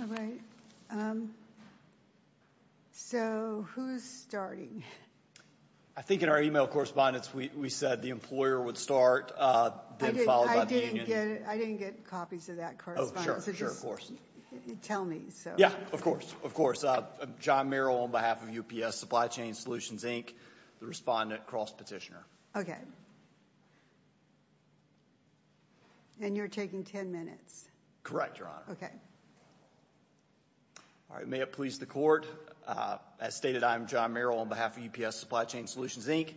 All right, so who's starting? I think in our email correspondence we said the employer would start, then followed by the union. I didn't get copies of that correspondence, just tell me. Yeah, of course, of course. John Merrill on behalf of UPS Supply Chain Solutions, Inc., the respondent cross-petitioner. Okay, and you're taking 10 minutes. Correct, Your Honor. Okay. All right, may it please the court. As stated, I'm John Merrill on behalf of UPS Supply Chain Solutions, Inc.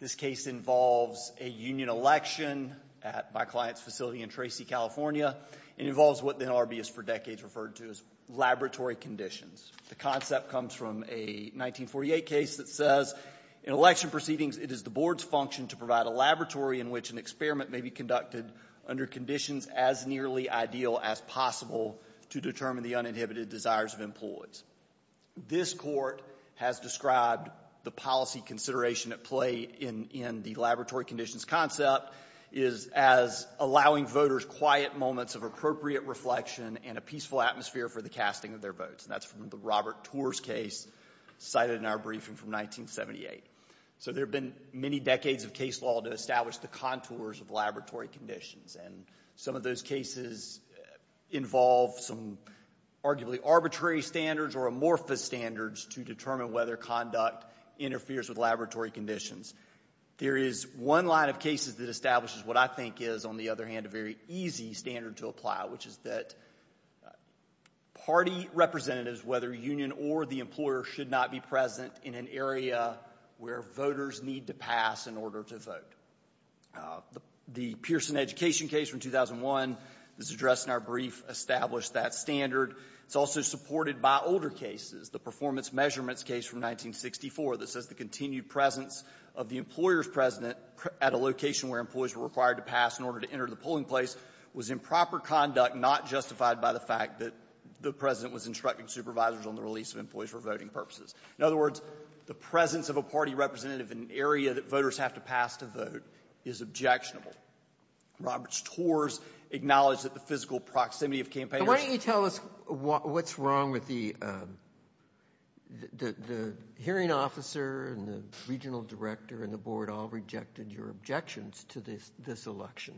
This case involves a union election at my client's facility in Tracy, California. It involves what the NLRB has for decades referred to as laboratory conditions. The concept comes from a 1948 case that says, in election proceedings, it is the board's function to provide a laboratory in which an experiment may be conducted under conditions as nearly ideal as possible to determine the uninhibited desires of employees. This court has described the policy consideration at play in the laboratory conditions concept is as allowing voters quiet moments of appropriate reflection and a peaceful atmosphere for the casting of their votes, and that's from the Robert Tors case cited in our briefing from 1978. So there have been many decades of case law to establish the contours of laboratory conditions, and some of those cases involve some arguably arbitrary standards or amorphous standards to determine whether conduct interferes with laboratory conditions. There is one line of cases that establishes what I think is, on the other hand, a very easy standard to apply, which is that party representatives, whether union or the employer, should not be present in an area where voters need to pass in order to vote. The Pearson education case from 2001 is addressed in our brief, established that standard. It's also supported by older cases. The performance measurements case from 1964 that says the continued presence of the employer's president at a location where employees were required to pass in order to enter the polling place was improper conduct, not justified by the fact that the president was instructing supervisors on the release of employees for voting purposes. In other words, the presence of a party representative in an area that voters have to pass to vote is objectionable. Robert Tors acknowledged that the physical proximity of campaigners — to this election.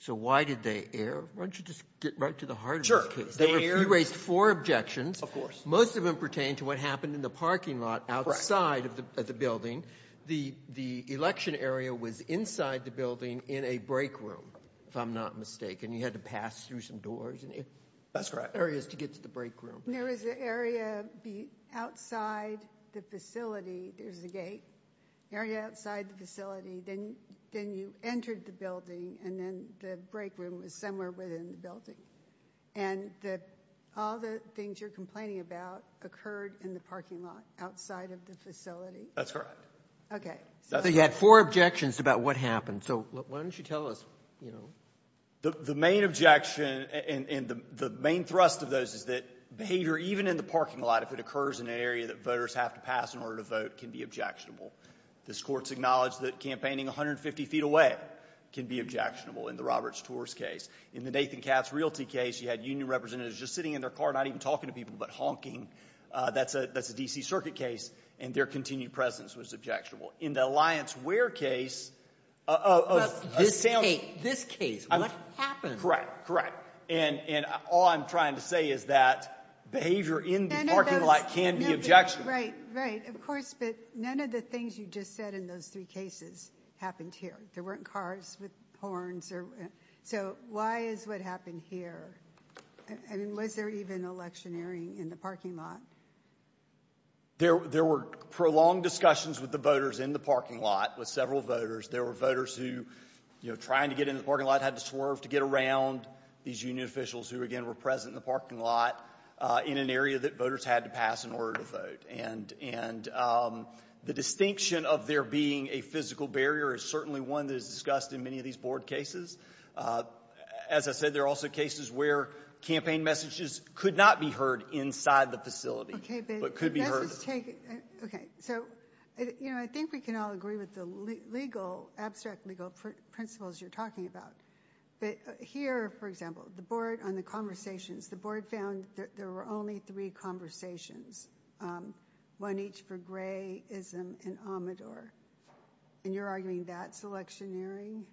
So why did they err? Why don't you just get right to the heart of this case? You raised four objections. Most of them pertain to what happened in the parking lot outside of the building. The election area was inside the building in a break room, if I'm not mistaken. You had to pass through some doors and areas to get to the break room. There was an area outside the facility. There's the gate. An area outside the facility. Then you entered the building, and then the break room was somewhere within the building. And all the things you're complaining about occurred in the parking lot outside of the facility. That's correct. Okay. So you had four objections about what happened. So why don't you tell us? The main objection and the main thrust of those is that behavior, even in the parking lot, if it occurs in an area that voters have to pass in order to vote, can be objectionable. This Court's acknowledged that campaigning 150 feet away can be objectionable in the Roberts-Tors case. In the Nathan Katz Realty case, you had union representatives just sitting in their car, not even talking to people, but honking. That's a D.C. Circuit case, and their continued presence was objectionable. In the Alliance Ware case... This case. What happened? Correct. Correct. And all I'm trying to say is that behavior in the parking lot can be objectionable. Right. Right. Of course, but none of the things you just said in those three cases happened here. There weren't cars with horns. So why is what happened here? And was there even electioneering in the parking lot? There were prolonged discussions with the voters in the parking lot, with several voters. There were voters who, you know, trying to get in the parking lot, had to swerve to get around these union officials who, again, were present in the parking lot in an area that voters had to pass in order to vote. And the distinction of there being a physical barrier is certainly one that is discussed in many of these Board cases. As I said, there are also cases where campaign messages could not be heard inside the facility, but could be heard. Okay. So, you know, I think we can all agree with the legal, abstract legal principles you're talking about. But here, for example, on the conversations, the Board found that there were only three conversations. One each for grayism and omidor. And you're arguing that's electioneering?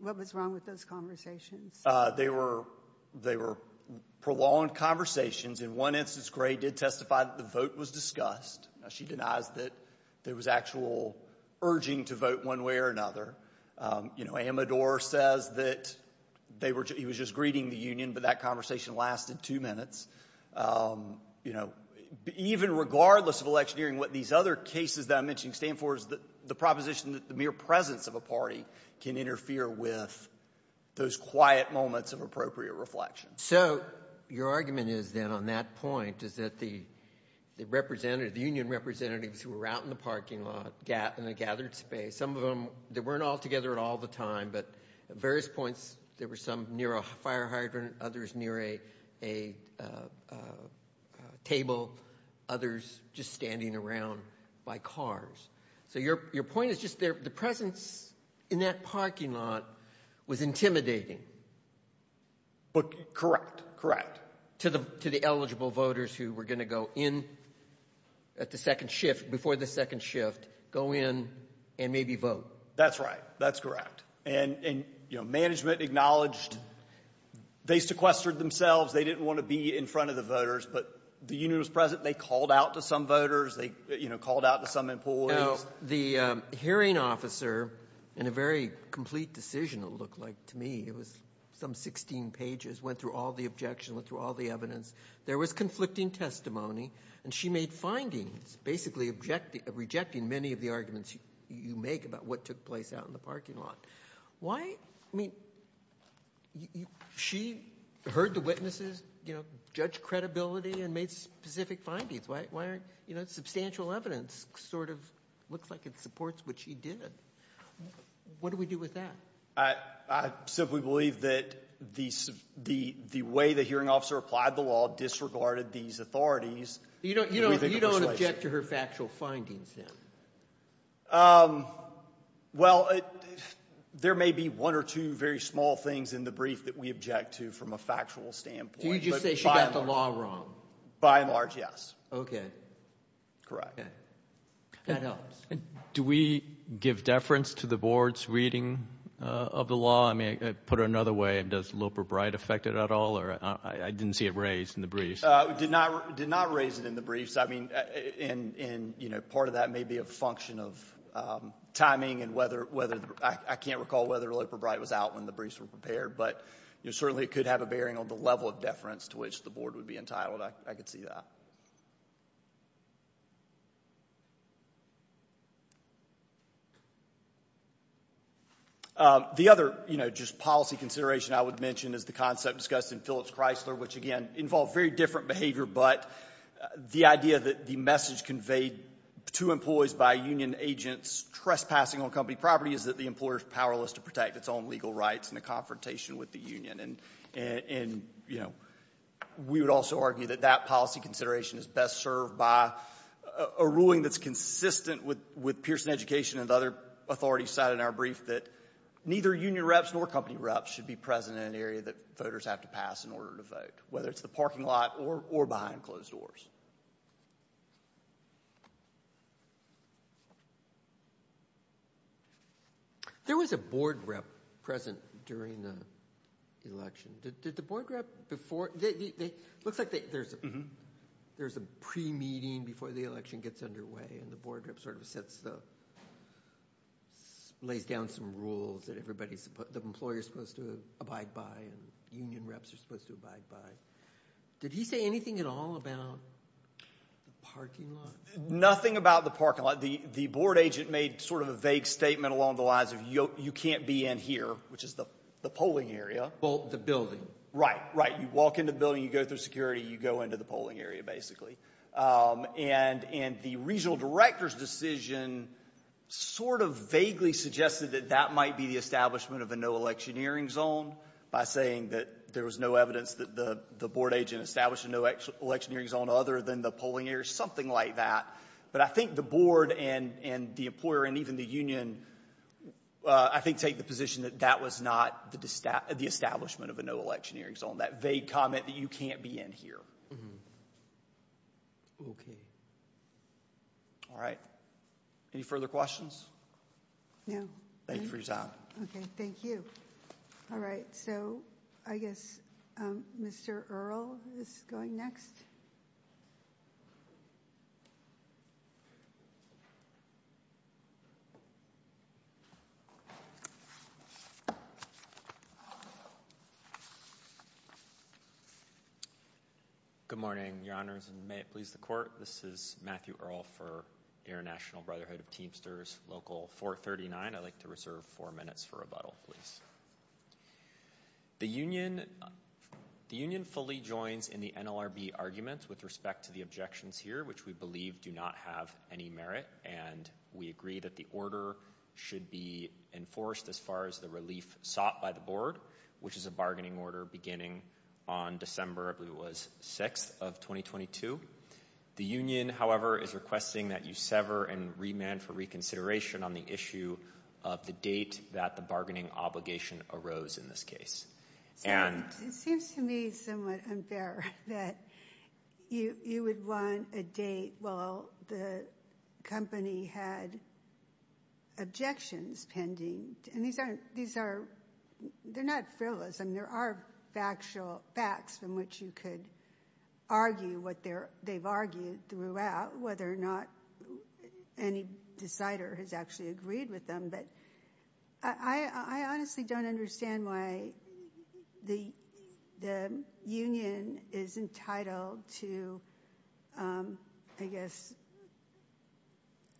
What was wrong with those conversations? They were prolonged conversations. In one instance, Gray did testify that the vote was discussed. She denies that there was actual urging to vote one way or another. You know, omidor says that he was just greeting the union, but that conversation lasted two minutes. You know, even regardless of electioneering, what these other cases that I mentioned stand for is the proposition that the mere presence of a party can interfere with those quiet moments of appropriate reflection. So your argument is then on that point is that the union representatives who were out in the parking lot in the gathered space, some of them weren't all together at all the time, but at various points there were some near a fire hydrant, others near a table, others just standing around by cars. So your point is just the presence in that parking lot was intimidating. Correct, correct. To the eligible voters who were going to go in at the second shift, before the second shift, go in and maybe vote. That's right. That's correct. And, you know, management acknowledged they sequestered themselves. They didn't want to be in front of the voters, but the union was present. They called out to some voters. They called out to some employees. The hearing officer, in a very complete decision it looked like to me, it was some 16 pages, went through all the objections, went through all the evidence. There was conflicting testimony, and she made findings, basically rejecting many of the arguments you make about what took place out in the parking lot. Why, I mean, she heard the witnesses judge credibility and made specific findings. Substantial evidence sort of looks like it supports what she did. What do we do with that? I simply believe that the way the hearing officer applied the law disregarded these authorities. You don't object to her factual findings then? Well, there may be one or two very small things in the brief that we object to from a factual standpoint. Did you just say she got the law wrong? By and large, yes. Okay. Correct. That helps. Do we give deference to the board's reading of the law? I mean, put it another way, does Looper-Bright affect it at all? I didn't see it raised in the brief. Did not raise it in the brief. I mean, part of that may be a function of timing, and I can't recall whether Looper-Bright was out when the briefs were prepared, but certainly it could have a bearing on the level of deference to which the board would be entitled. I could see that. The other policy consideration I would mention is the concept discussed in Phillips-Chrysler, which, again, involved very different behavior, but the idea that the message conveyed to employees by union agents trespassing on company property is that the employer is powerless to protect its own legal rights in a confrontation with the union. And, you know, we would also argue that that policy consideration is best served by a ruling that's consistent with Pearson Education and other authorities' side in our brief, that neither union reps nor company reps should be present in an area that voters have to pass in order to vote, whether it's the parking lot or behind closed doors. There was a board rep present during the election. Did the board rep before – it looks like there's a pre-meeting before the election gets underway, and the board rep sort of lays down some rules that the employer is supposed to abide by and union reps are supposed to abide by. Did he say anything at all about the parking lot? Nothing about the parking lot. The board agent made sort of a vague statement along the lines of, you can't be in here, which is the polling area. The building. Right, right. You walk into the building, you go through security, you go into the polling area, basically. And the regional director's decision sort of vaguely suggested that that might be the establishment of a no-election hearing zone by saying that there was no evidence that the board agent established a no-election hearing zone other than the polling area or something like that. But I think the board and the employer and even the union, I think, take the position that that was not the establishment of a no-election hearing zone, that vague comment that you can't be in here. Okay. All right. Any further questions? No. Thank you for your time. Okay. Thank you. All right. So I guess Mr. Earle is going next. Good morning, Your Honors, and may it please the Court, this is Matthew Earle for Air National Brotherhood of Teamsters, Local 439. I'd like to reserve four minutes for rebuttal, please. The union fully joins in the NLRB arguments with respect to the objections here, which we believe do not have any merit, and we agree that the order should be enforced as far as the relief sought by the board, which is a bargaining order beginning on December, I believe it was, 6th of 2022. The union, however, is requesting that you sever and remand for reconsideration on the issue of the date that the bargaining obligation arose in this case. It seems to me somewhat unfair that you would want a date while the company had objections pending. And these are not frivolous. I mean, there are factual facts from which you could argue what they've argued throughout, whether or not any decider has actually agreed with them. But I honestly don't understand why the union is entitled to, I guess,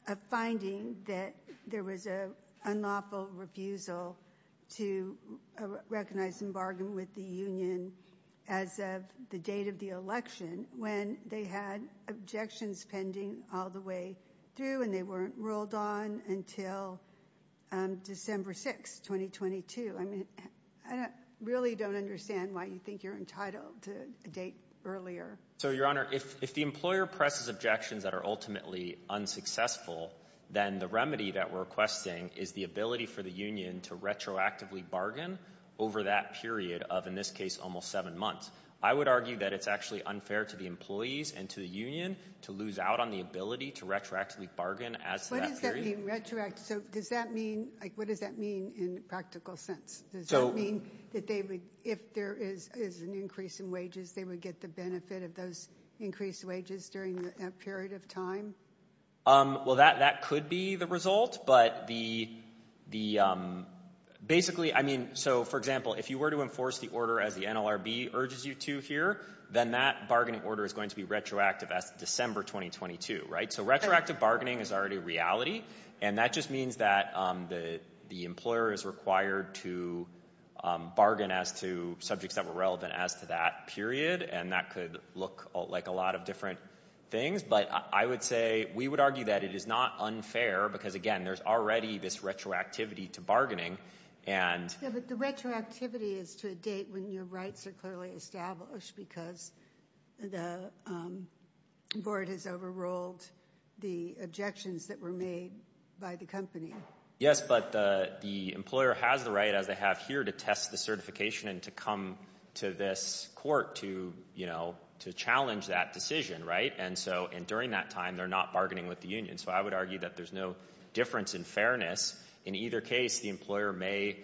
a finding that there was an unlawful refusal to recognize and bargain with the union as of the date of the election when they had objections pending all the way through and they weren't ruled on until December 6, 2022. I mean, I really don't understand why you think you're entitled to a date earlier. So, Your Honor, if the employer presses objections that are ultimately unsuccessful, then the remedy that we're requesting is the ability for the union to retroactively bargain over that period of, in this case, almost seven months. I would argue that it's actually unfair to the employees and to the union to lose out on the ability to retroactively bargain as to that period. What does that mean, retroactive? So, does that mean, like, what does that mean in a practical sense? Does that mean that if there is an increase in wages, they would get the benefit of those increased wages during that period of time? Well, that could be the result, but basically, I mean, so, for example, if you were to enforce the order as the NLRB urges you to here, then that bargaining order is going to be retroactive as of December 2022, right? So, retroactive bargaining is already reality, and that just means that the employer is required to bargain as to subjects that were relevant as to that period, and that could look like a lot of different things. But I would say we would argue that it is not unfair because, again, there's already this retroactivity to bargaining. Yeah, but the retroactivity is to a date when your rights are clearly established because the board has overruled the objections that were made by the company. Yes, but the employer has the right, as they have here, to test the certification and to come to this court to, you know, to challenge that decision, right? And so, during that time, they're not bargaining with the union. So, I would argue that there's no difference in fairness. In either case, the employer may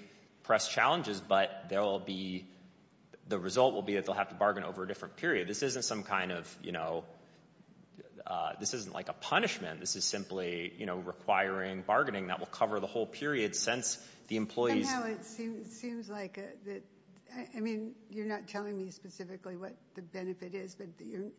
press challenges, but there will be—the result will be that they'll have to bargain over a different period. This isn't some kind of, you know—this isn't like a punishment. This is simply, you know, requiring bargaining that will cover the whole period since the employees— Somehow it seems like—I mean, you're not telling me specifically what the benefit is, but you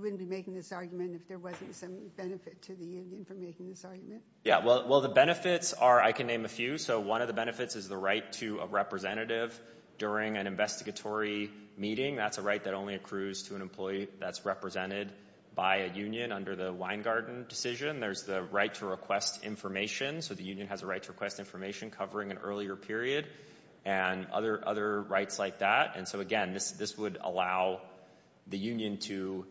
wouldn't be making this argument if there wasn't some benefit to the union for making this argument. Yeah, well, the benefits are—I can name a few. So, one of the benefits is the right to a representative during an investigatory meeting. That's a right that only accrues to an employee that's represented by a union under the Weingarten decision. There's the right to request information. So, the union has a right to request information covering an earlier period and other rights like that. And so, again, this would allow the union to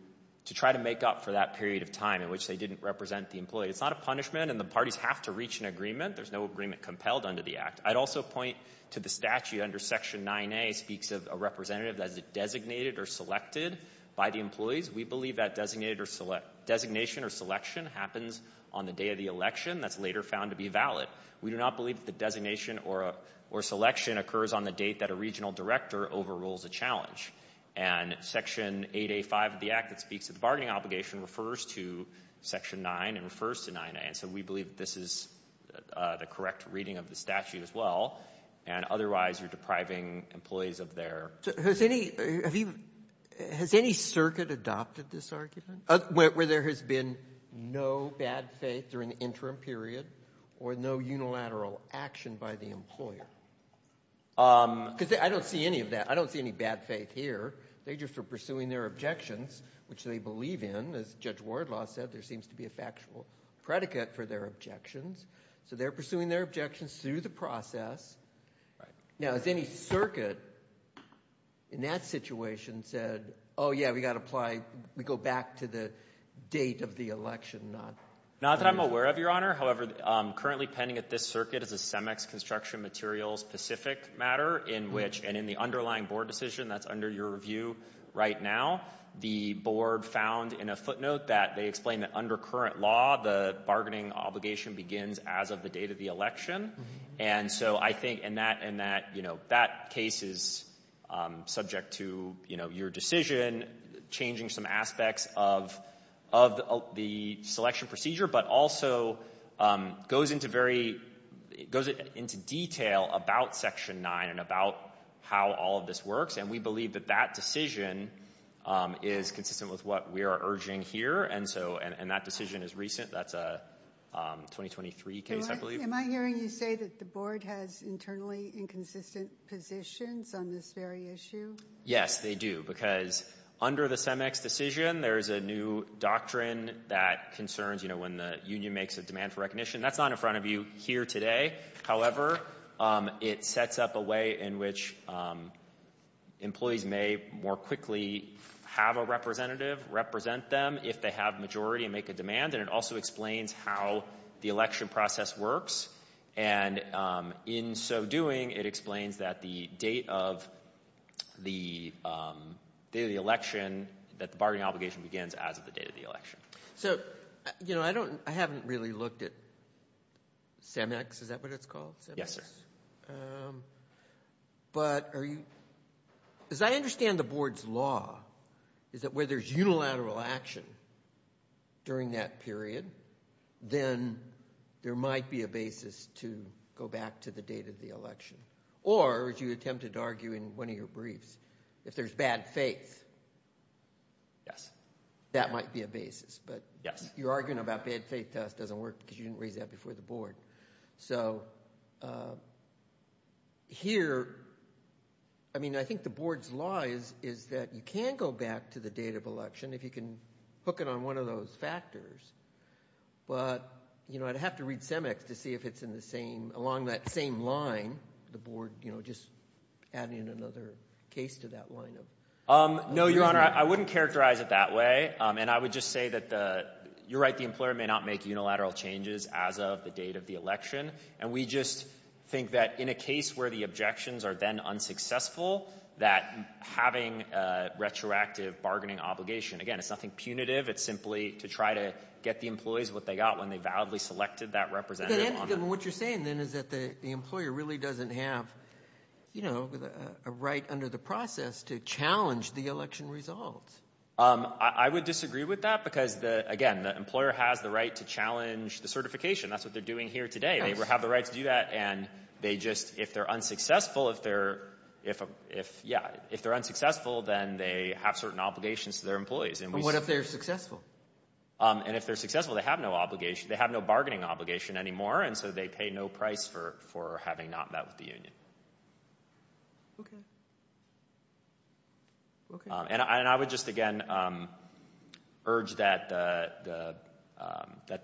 try to make up for that period of time in which they didn't represent the employee. It's not a punishment, and the parties have to reach an agreement. There's no agreement compelled under the Act. I'd also point to the statute under Section 9A speaks of a representative that is designated or selected by the employees. We believe that designation or selection happens on the day of the election. That's later found to be valid. We do not believe that the designation or selection occurs on the date that a regional director overrules a challenge. And Section 8A.5 of the Act that speaks to the bargaining obligation refers to Section 9 and refers to 9A. So, we believe this is the correct reading of the statute as well, and otherwise you're depriving employees of their- Has any circuit adopted this argument where there has been no bad faith during the interim period or no unilateral action by the employer? Because I don't see any of that. I don't see any bad faith here. They just were pursuing their objections, which they believe in. As Judge Wardlaw said, there seems to be a factual predicate for their objections. So, they're pursuing their objections through the process. Now, has any circuit in that situation said, oh, yeah, we got to apply- we go back to the date of the election? Not that I'm aware of, Your Honor. However, currently pending at this circuit is a CEMEX construction materials specific matter in which- and in the underlying board decision that's under your review right now. The board found in a footnote that they explained that under current law, the bargaining obligation begins as of the date of the election. And so, I think in that case is subject to your decision, changing some aspects of the selection procedure, but also goes into detail about Section 9 and about how all of this works. And we believe that that decision is consistent with what we are urging here. And that decision is recent. That's a 2023 case, I believe. Am I hearing you say that the board has internally inconsistent positions on this very issue? Yes, they do. Because under the CEMEX decision, there is a new doctrine that concerns, you know, when the union makes a demand for recognition. That's not in front of you here today. However, it sets up a way in which employees may more quickly have a representative represent them if they have majority and make a demand. And it also explains how the election process works. And in so doing, it explains that the date of the election, that the bargaining obligation begins as of the date of the election. So, you know, I haven't really looked at CEMEX. Is that what it's called? Yes, sir. But as I understand the board's law, is that where there's unilateral action during that period, then there might be a basis to go back to the date of the election. Or, as you attempted to argue in one of your briefs, if there's bad faith, that might be a basis. But your arguing about bad faith doesn't work because you didn't raise that before the board. So here, I mean, I think the board's law is that you can go back to the date of election if you can hook it on one of those factors. But, you know, I'd have to read CEMEX to see if it's in the same – along that same line, the board, you know, just adding another case to that line. No, Your Honor. I wouldn't characterize it that way. And I would just say that the – you're right, the employer may not make unilateral changes as of the date of the election. And we just think that in a case where the objections are then unsuccessful, that having a retroactive bargaining obligation – again, it's nothing punitive. It's simply to try to get the employees what they got when they validly selected that representative. What you're saying then is that the employer really doesn't have, you know, a right under the process to challenge the election results. I would disagree with that because, again, the employer has the right to challenge the certification. That's what they're doing here today. They have the right to do that. And they just – if they're unsuccessful, if they're – yeah, if they're unsuccessful, then they have certain obligations to their employees. But what if they're successful? And if they're successful, they have no obligation. They have no bargaining obligation anymore, and so they pay no price for having not met with the union. Okay. And I would just, again, urge that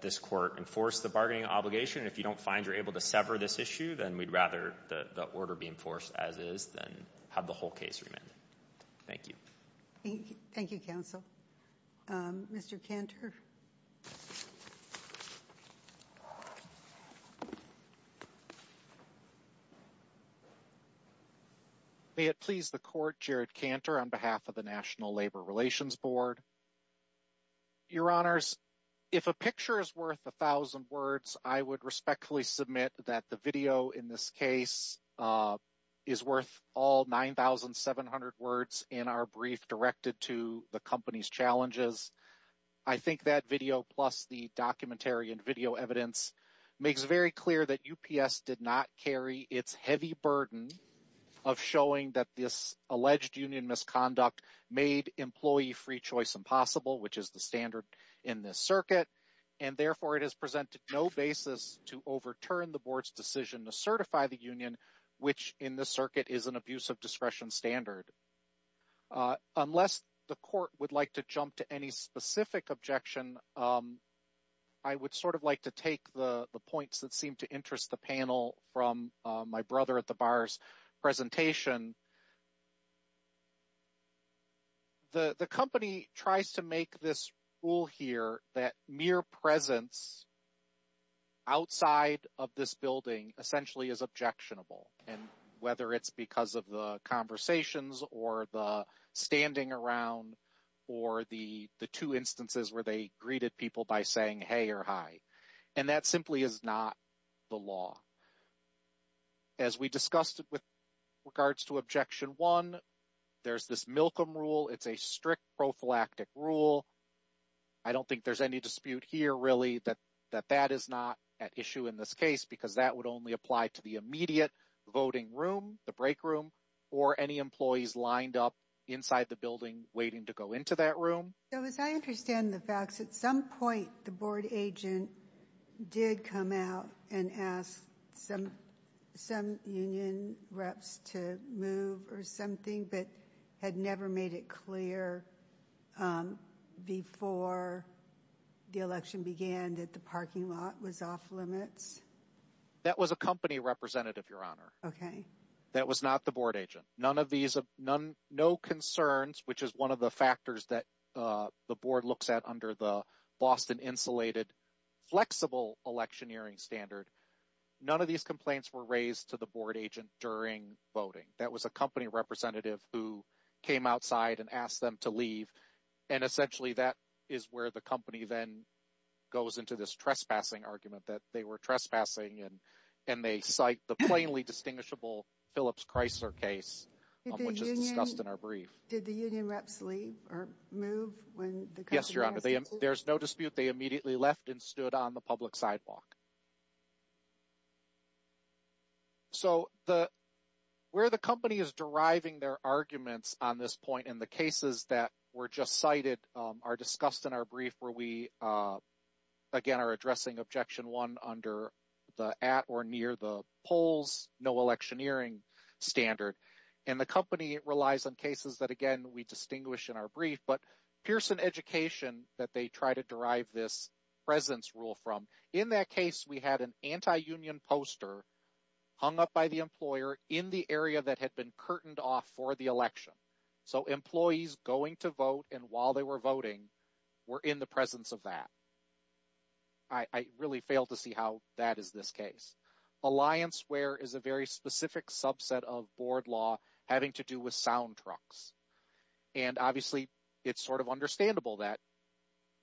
this court enforce the bargaining obligation. If you don't find you're able to sever this issue, then we'd rather the order be enforced as is than have the whole case remanded. Thank you. Thank you, counsel. Mr. Cantor. Mr. Cantor. May it please the court, Jared Cantor on behalf of the National Labor Relations Board. Your Honors, if a picture is worth 1,000 words, I would respectfully submit that the video in this case is worth all 9,700 words in our brief directed to the company's challenges. I think that video plus the documentary and video evidence makes very clear that UPS did not carry its heavy burden of showing that this alleged union misconduct made employee free choice impossible, which is the standard in this circuit. And therefore, it has presented no basis to overturn the board's decision to certify the union, which in this circuit is an abuse of discretion standard. Unless the court would like to jump to any specific objection, I would sort of like to take the points that seem to interest the panel from my brother at the bar's presentation. And the company tries to make this rule here that mere presence outside of this building essentially is objectionable, and whether it's because of the conversations or the standing around or the two instances where they greeted people by saying hey or hi. And that simply is not the law. As we discussed with regards to Objection 1, there's this Milcom rule. It's a strict prophylactic rule. I don't think there's any dispute here, really, that that is not at issue in this case because that would only apply to the immediate voting room, the break room, or any employees lined up inside the building waiting to go into that room. So as I understand the facts, at some point the board agent did come out and ask some union reps to move or something, but had never made it clear before the election began that the parking lot was off limits? That was a company representative, Your Honor. Okay. That was not the board agent. No concerns, which is one of the factors that the board looks at under the Boston Insulated Flexible Electioneering Standard. None of these complaints were raised to the board agent during voting. That was a company representative who came outside and asked them to leave. And essentially that is where the company then goes into this trespassing argument, that they were trespassing and they cite the plainly distinguishable Phillips Chrysler case, which is discussed in our brief. Did the union reps leave or move? Yes, Your Honor. There's no dispute. They immediately left and stood on the public sidewalk. So where the company is deriving their arguments on this point in the cases that were just cited are discussed in our brief where we, again, are addressing Objection 1 under the at or near the polls, no electioneering standard. And the company relies on cases that, again, we distinguish in our brief, but Pearson Education that they try to derive this presence rule from. In that case, we had an anti-union poster hung up by the employer in the area that had been curtained off for the election. So employees going to vote and while they were voting were in the presence of that. I really failed to see how that is this case. Allianceware is a very specific subset of board law having to do with sound trucks. And obviously, it's sort of understandable that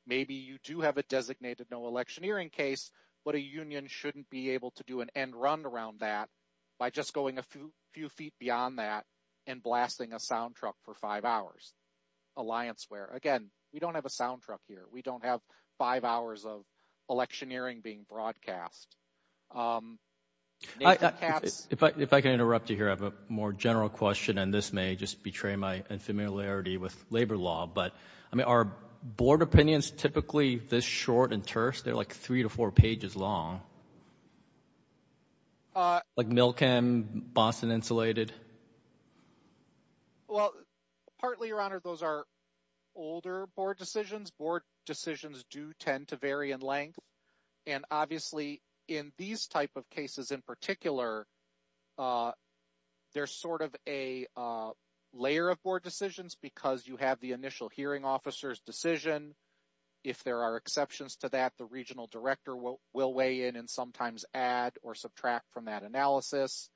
maybe you do have a designated no electioneering case, but a union shouldn't be able to do an end run around that by just going a few feet beyond that and blasting a sound truck for five hours. Allianceware, again, we don't have a sound truck here. We don't have five hours of electioneering being broadcast. If I can interrupt you here, I have a more general question, and this may just betray my infamiliarity with labor law. But, I mean, are board opinions typically this short and terse? They're like three to four pages long. Like Milkem, Boston Insulated. Well, partly, Your Honor, those are older board decisions. Board decisions do tend to vary in length. And obviously, in these type of cases in particular, there's sort of a layer of board decisions because you have the initial hearing officer's decision. If there are exceptions to that, the regional director will weigh in and sometimes add or subtract from that analysis.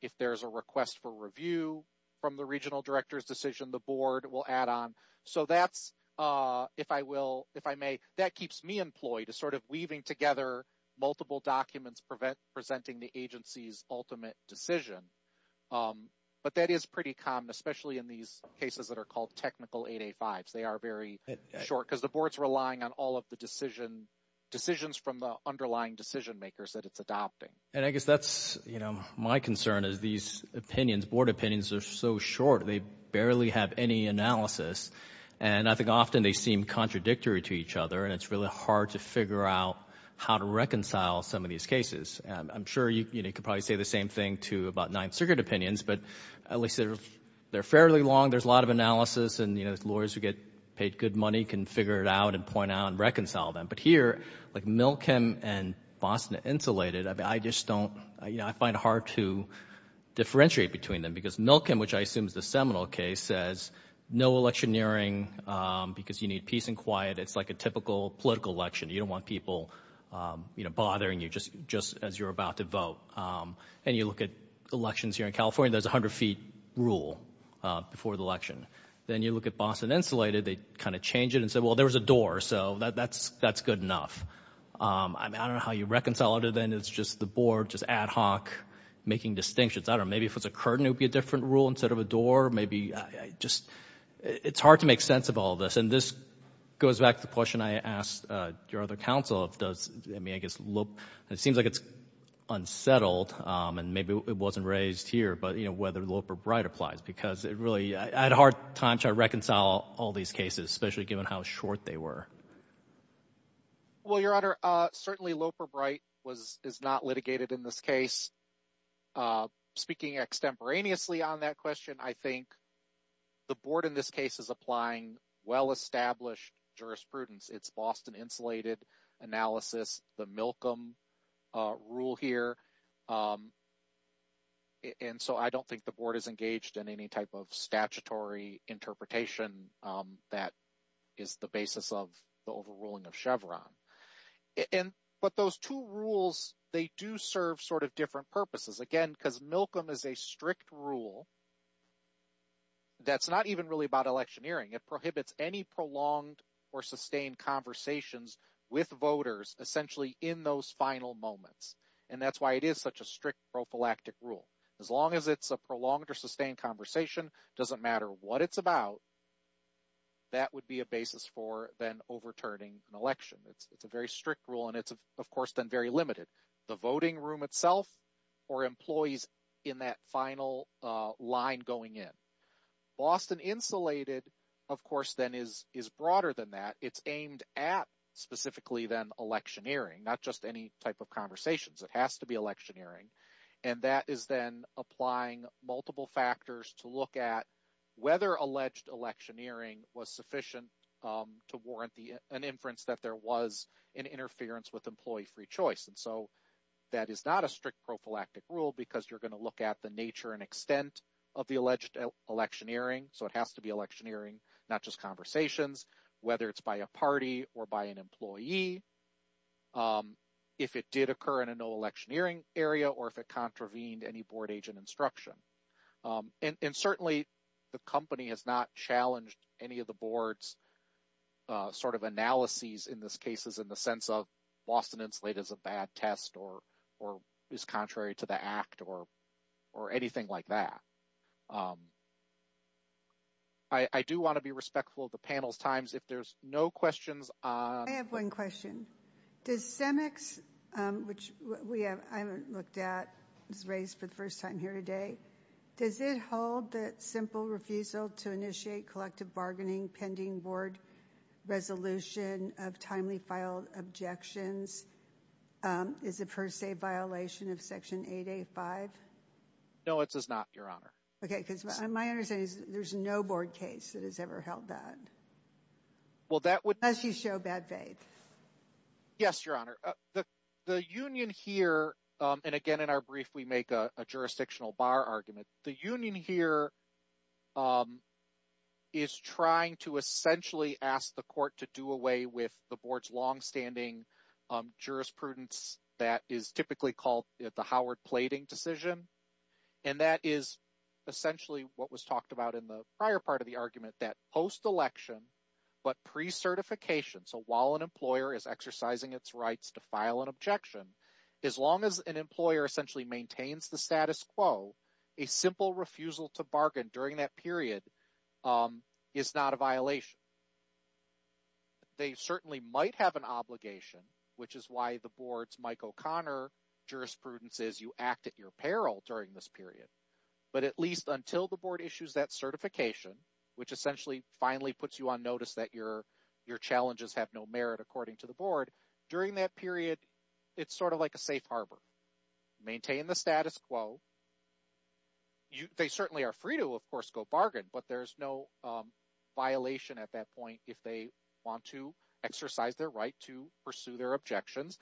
If there's a request for review from the regional director's decision, the board will add on. So that's, if I will, if I may, that keeps me employed is sort of weaving together multiple documents presenting the agency's ultimate decision. But that is pretty common, especially in these cases that are called technical 885s. They are very short because the board's relying on all of the decisions from the underlying decision makers that it's adopting. And I guess that's, you know, my concern is these opinions, board opinions are so short, they barely have any analysis. And I think often they seem contradictory to each other and it's really hard to figure out how to reconcile some of these cases. I'm sure you could probably say the same thing to about Ninth Circuit opinions, but at least they're fairly long. There's a lot of analysis and, you know, lawyers who get paid good money can figure it out and point out and reconcile them. But here, like Milkem and Boston Insulated, I just don't, you know, I find it hard to differentiate between them because Milkem, which I assume is the seminal case, says no electioneering because you need peace and quiet. It's like a typical political election. You don't want people, you know, bothering you just as you're about to vote. And you look at elections here in California, there's a hundred feet rule before the election. Then you look at Boston Insulated, they kind of change it and say, well, there was a door, so that's good enough. I mean, I don't know how you reconcile it. Then it's just the board, just ad hoc, making distinctions. I don't know, maybe if it was a curtain, it would be a different rule instead of a door. Maybe I just, it's hard to make sense of all this. And this goes back to the question I asked your other counsel of does, I mean, I guess, it seems like it's unsettled and maybe it wasn't raised here, but, you know, whether Loper-Bright applies because it really, I had a hard time trying to reconcile all these cases, especially given how short they were. Well, Your Honor, certainly Loper-Bright was, is not litigated in this case. Speaking extemporaneously on that question, I think the board in this case is applying well-established jurisprudence. It's Boston Insulated analysis, the Milcom rule here. And so I don't think the board is engaged in any type of statutory interpretation that is the basis of the overruling of Chevron. And, but those two rules, they do serve sort of different purposes. Again, because Milcom is a strict rule that's not even really about electioneering. It prohibits any prolonged or sustained conversations with voters essentially in those final moments. And that's why it is such a strict prophylactic rule. As long as it's a prolonged or sustained conversation, doesn't matter what it's about, that would be a basis for then overturning an election. It's a very strict rule and it's, of course, then very limited. The voting room itself or employees in that final line going in. Boston Insulated, of course, then is broader than that. It's aimed at specifically then electioneering, not just any type of conversations. It has to be electioneering. And that is then applying multiple factors to look at whether alleged electioneering was sufficient to warrant an inference that there was an interference with employee free choice. And so that is not a strict prophylactic rule because you're going to look at the nature and extent of the alleged electioneering. So it has to be electioneering, not just conversations, whether it's by a party or by an employee, if it did occur in a no electioneering area or if it contravened any board agent instruction. And certainly the company has not challenged any of the board's sort of analyses in this case is in the sense of Boston Insulated is a bad test or is contrary to the act or anything like that. I do want to be respectful of the panel's times if there's no questions. I have one question. Does CEMEX, which I haven't looked at, was raised for the first time here today, does it hold that simple refusal to initiate collective bargaining pending board resolution of timely filed objections is a per se violation of Section 885? No, it does not, Your Honor. Okay, because my understanding is there's no board case that has ever held that. Well, that would show bad faith. Yes, Your Honor. The union here and again in our brief, we make a jurisdictional bar argument. The union here is trying to essentially ask the court to do away with the board's longstanding jurisprudence. That is typically called the Howard plating decision. And that is essentially what was talked about in the prior part of the argument, that post-election but pre-certification, so while an employer is exercising its rights to file an objection, as long as an employer essentially maintains the status quo, a simple refusal to bargain during that period is not a violation. They certainly might have an obligation, which is why the board's Mike O'Connor jurisprudence is you act at your peril during this period. But at least until the board issues that certification, which essentially finally puts you on notice that your challenges have no merit according to the board, during that period, it's sort of like a safe harbor. Maintain the status quo. They certainly are free to, of course, go bargain, but there's no violation at that point if they want to exercise their right to pursue their objections.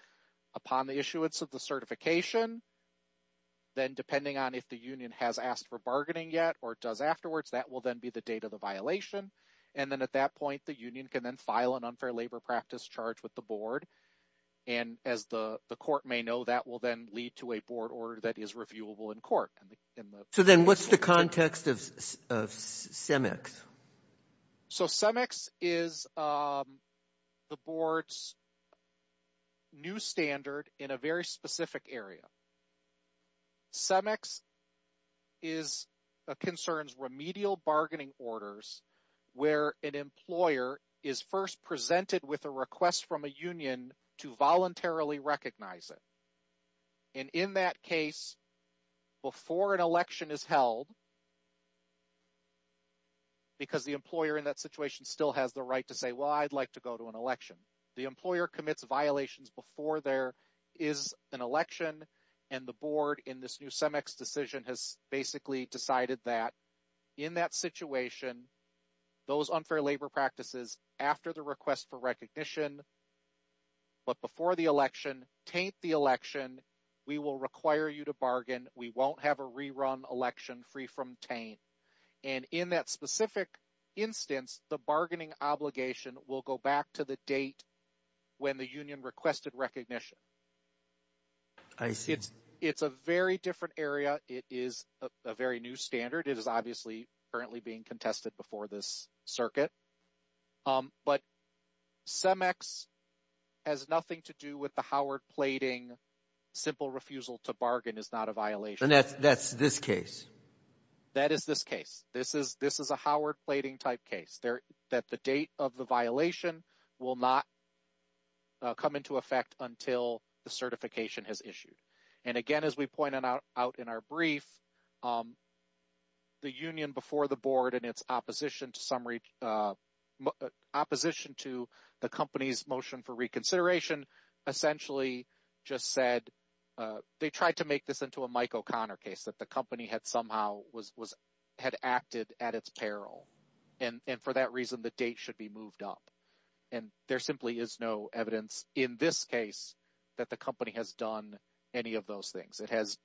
Upon the issuance of the certification, then depending on if the union has asked for bargaining yet or does afterwards, that will then be the date of the violation. And then at that point, the union can then file an unfair labor practice charge with the board. And as the court may know, that will then lead to a board order that is reviewable in court. So then what's the context of CEMEX? So CEMEX is the board's new standard in a very specific area. CEMEX concerns remedial bargaining orders where an employer is first presented with a request from a union to voluntarily recognize it. And in that case, before an election is held, because the employer in that situation still has the right to say, well, I'd like to go to an election. The employer commits violations before there is an election. And the board in this new CEMEX decision has basically decided that in that situation, those unfair labor practices after the request for recognition, but before the election, taint the election. We will require you to bargain. We won't have a rerun election free from taint. And in that specific instance, the bargaining obligation will go back to the date when the union requested recognition. I see. It's a very different area. It is a very new standard. It is obviously currently being contested before this circuit. But CEMEX has nothing to do with the Howard plating. Simple refusal to bargain is not a violation. And that's this case. That is this case. This is a Howard plating type case. That the date of the violation will not come into effect until the certification is issued. And again, as we pointed out in our brief, the union before the board in its opposition to the company's motion for reconsideration essentially just said they tried to make this into a Mike O'Connor case. That the company had somehow had acted at its peril. And for that reason, the date should be moved up. And there simply is no evidence in this case that the company has done any of those things. It has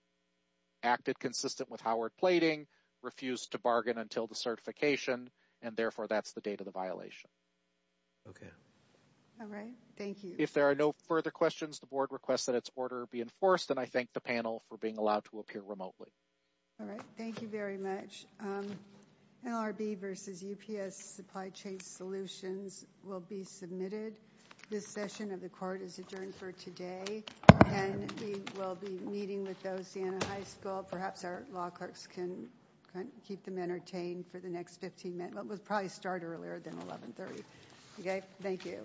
acted consistent with Howard plating, refused to bargain until the certification, and therefore that's the date of the violation. Okay. All right. Thank you. If there are no further questions, the board requests that its order be enforced. And I thank the panel for being allowed to appear remotely. All right. Thank you very much. LRB versus UPS supply chain solutions will be submitted. This session of the court is adjourned for today. And we will be meeting with those in a high school. Perhaps our law clerks can keep them entertained for the next 15 minutes. It will probably start earlier than 1130. Okay. Thank you.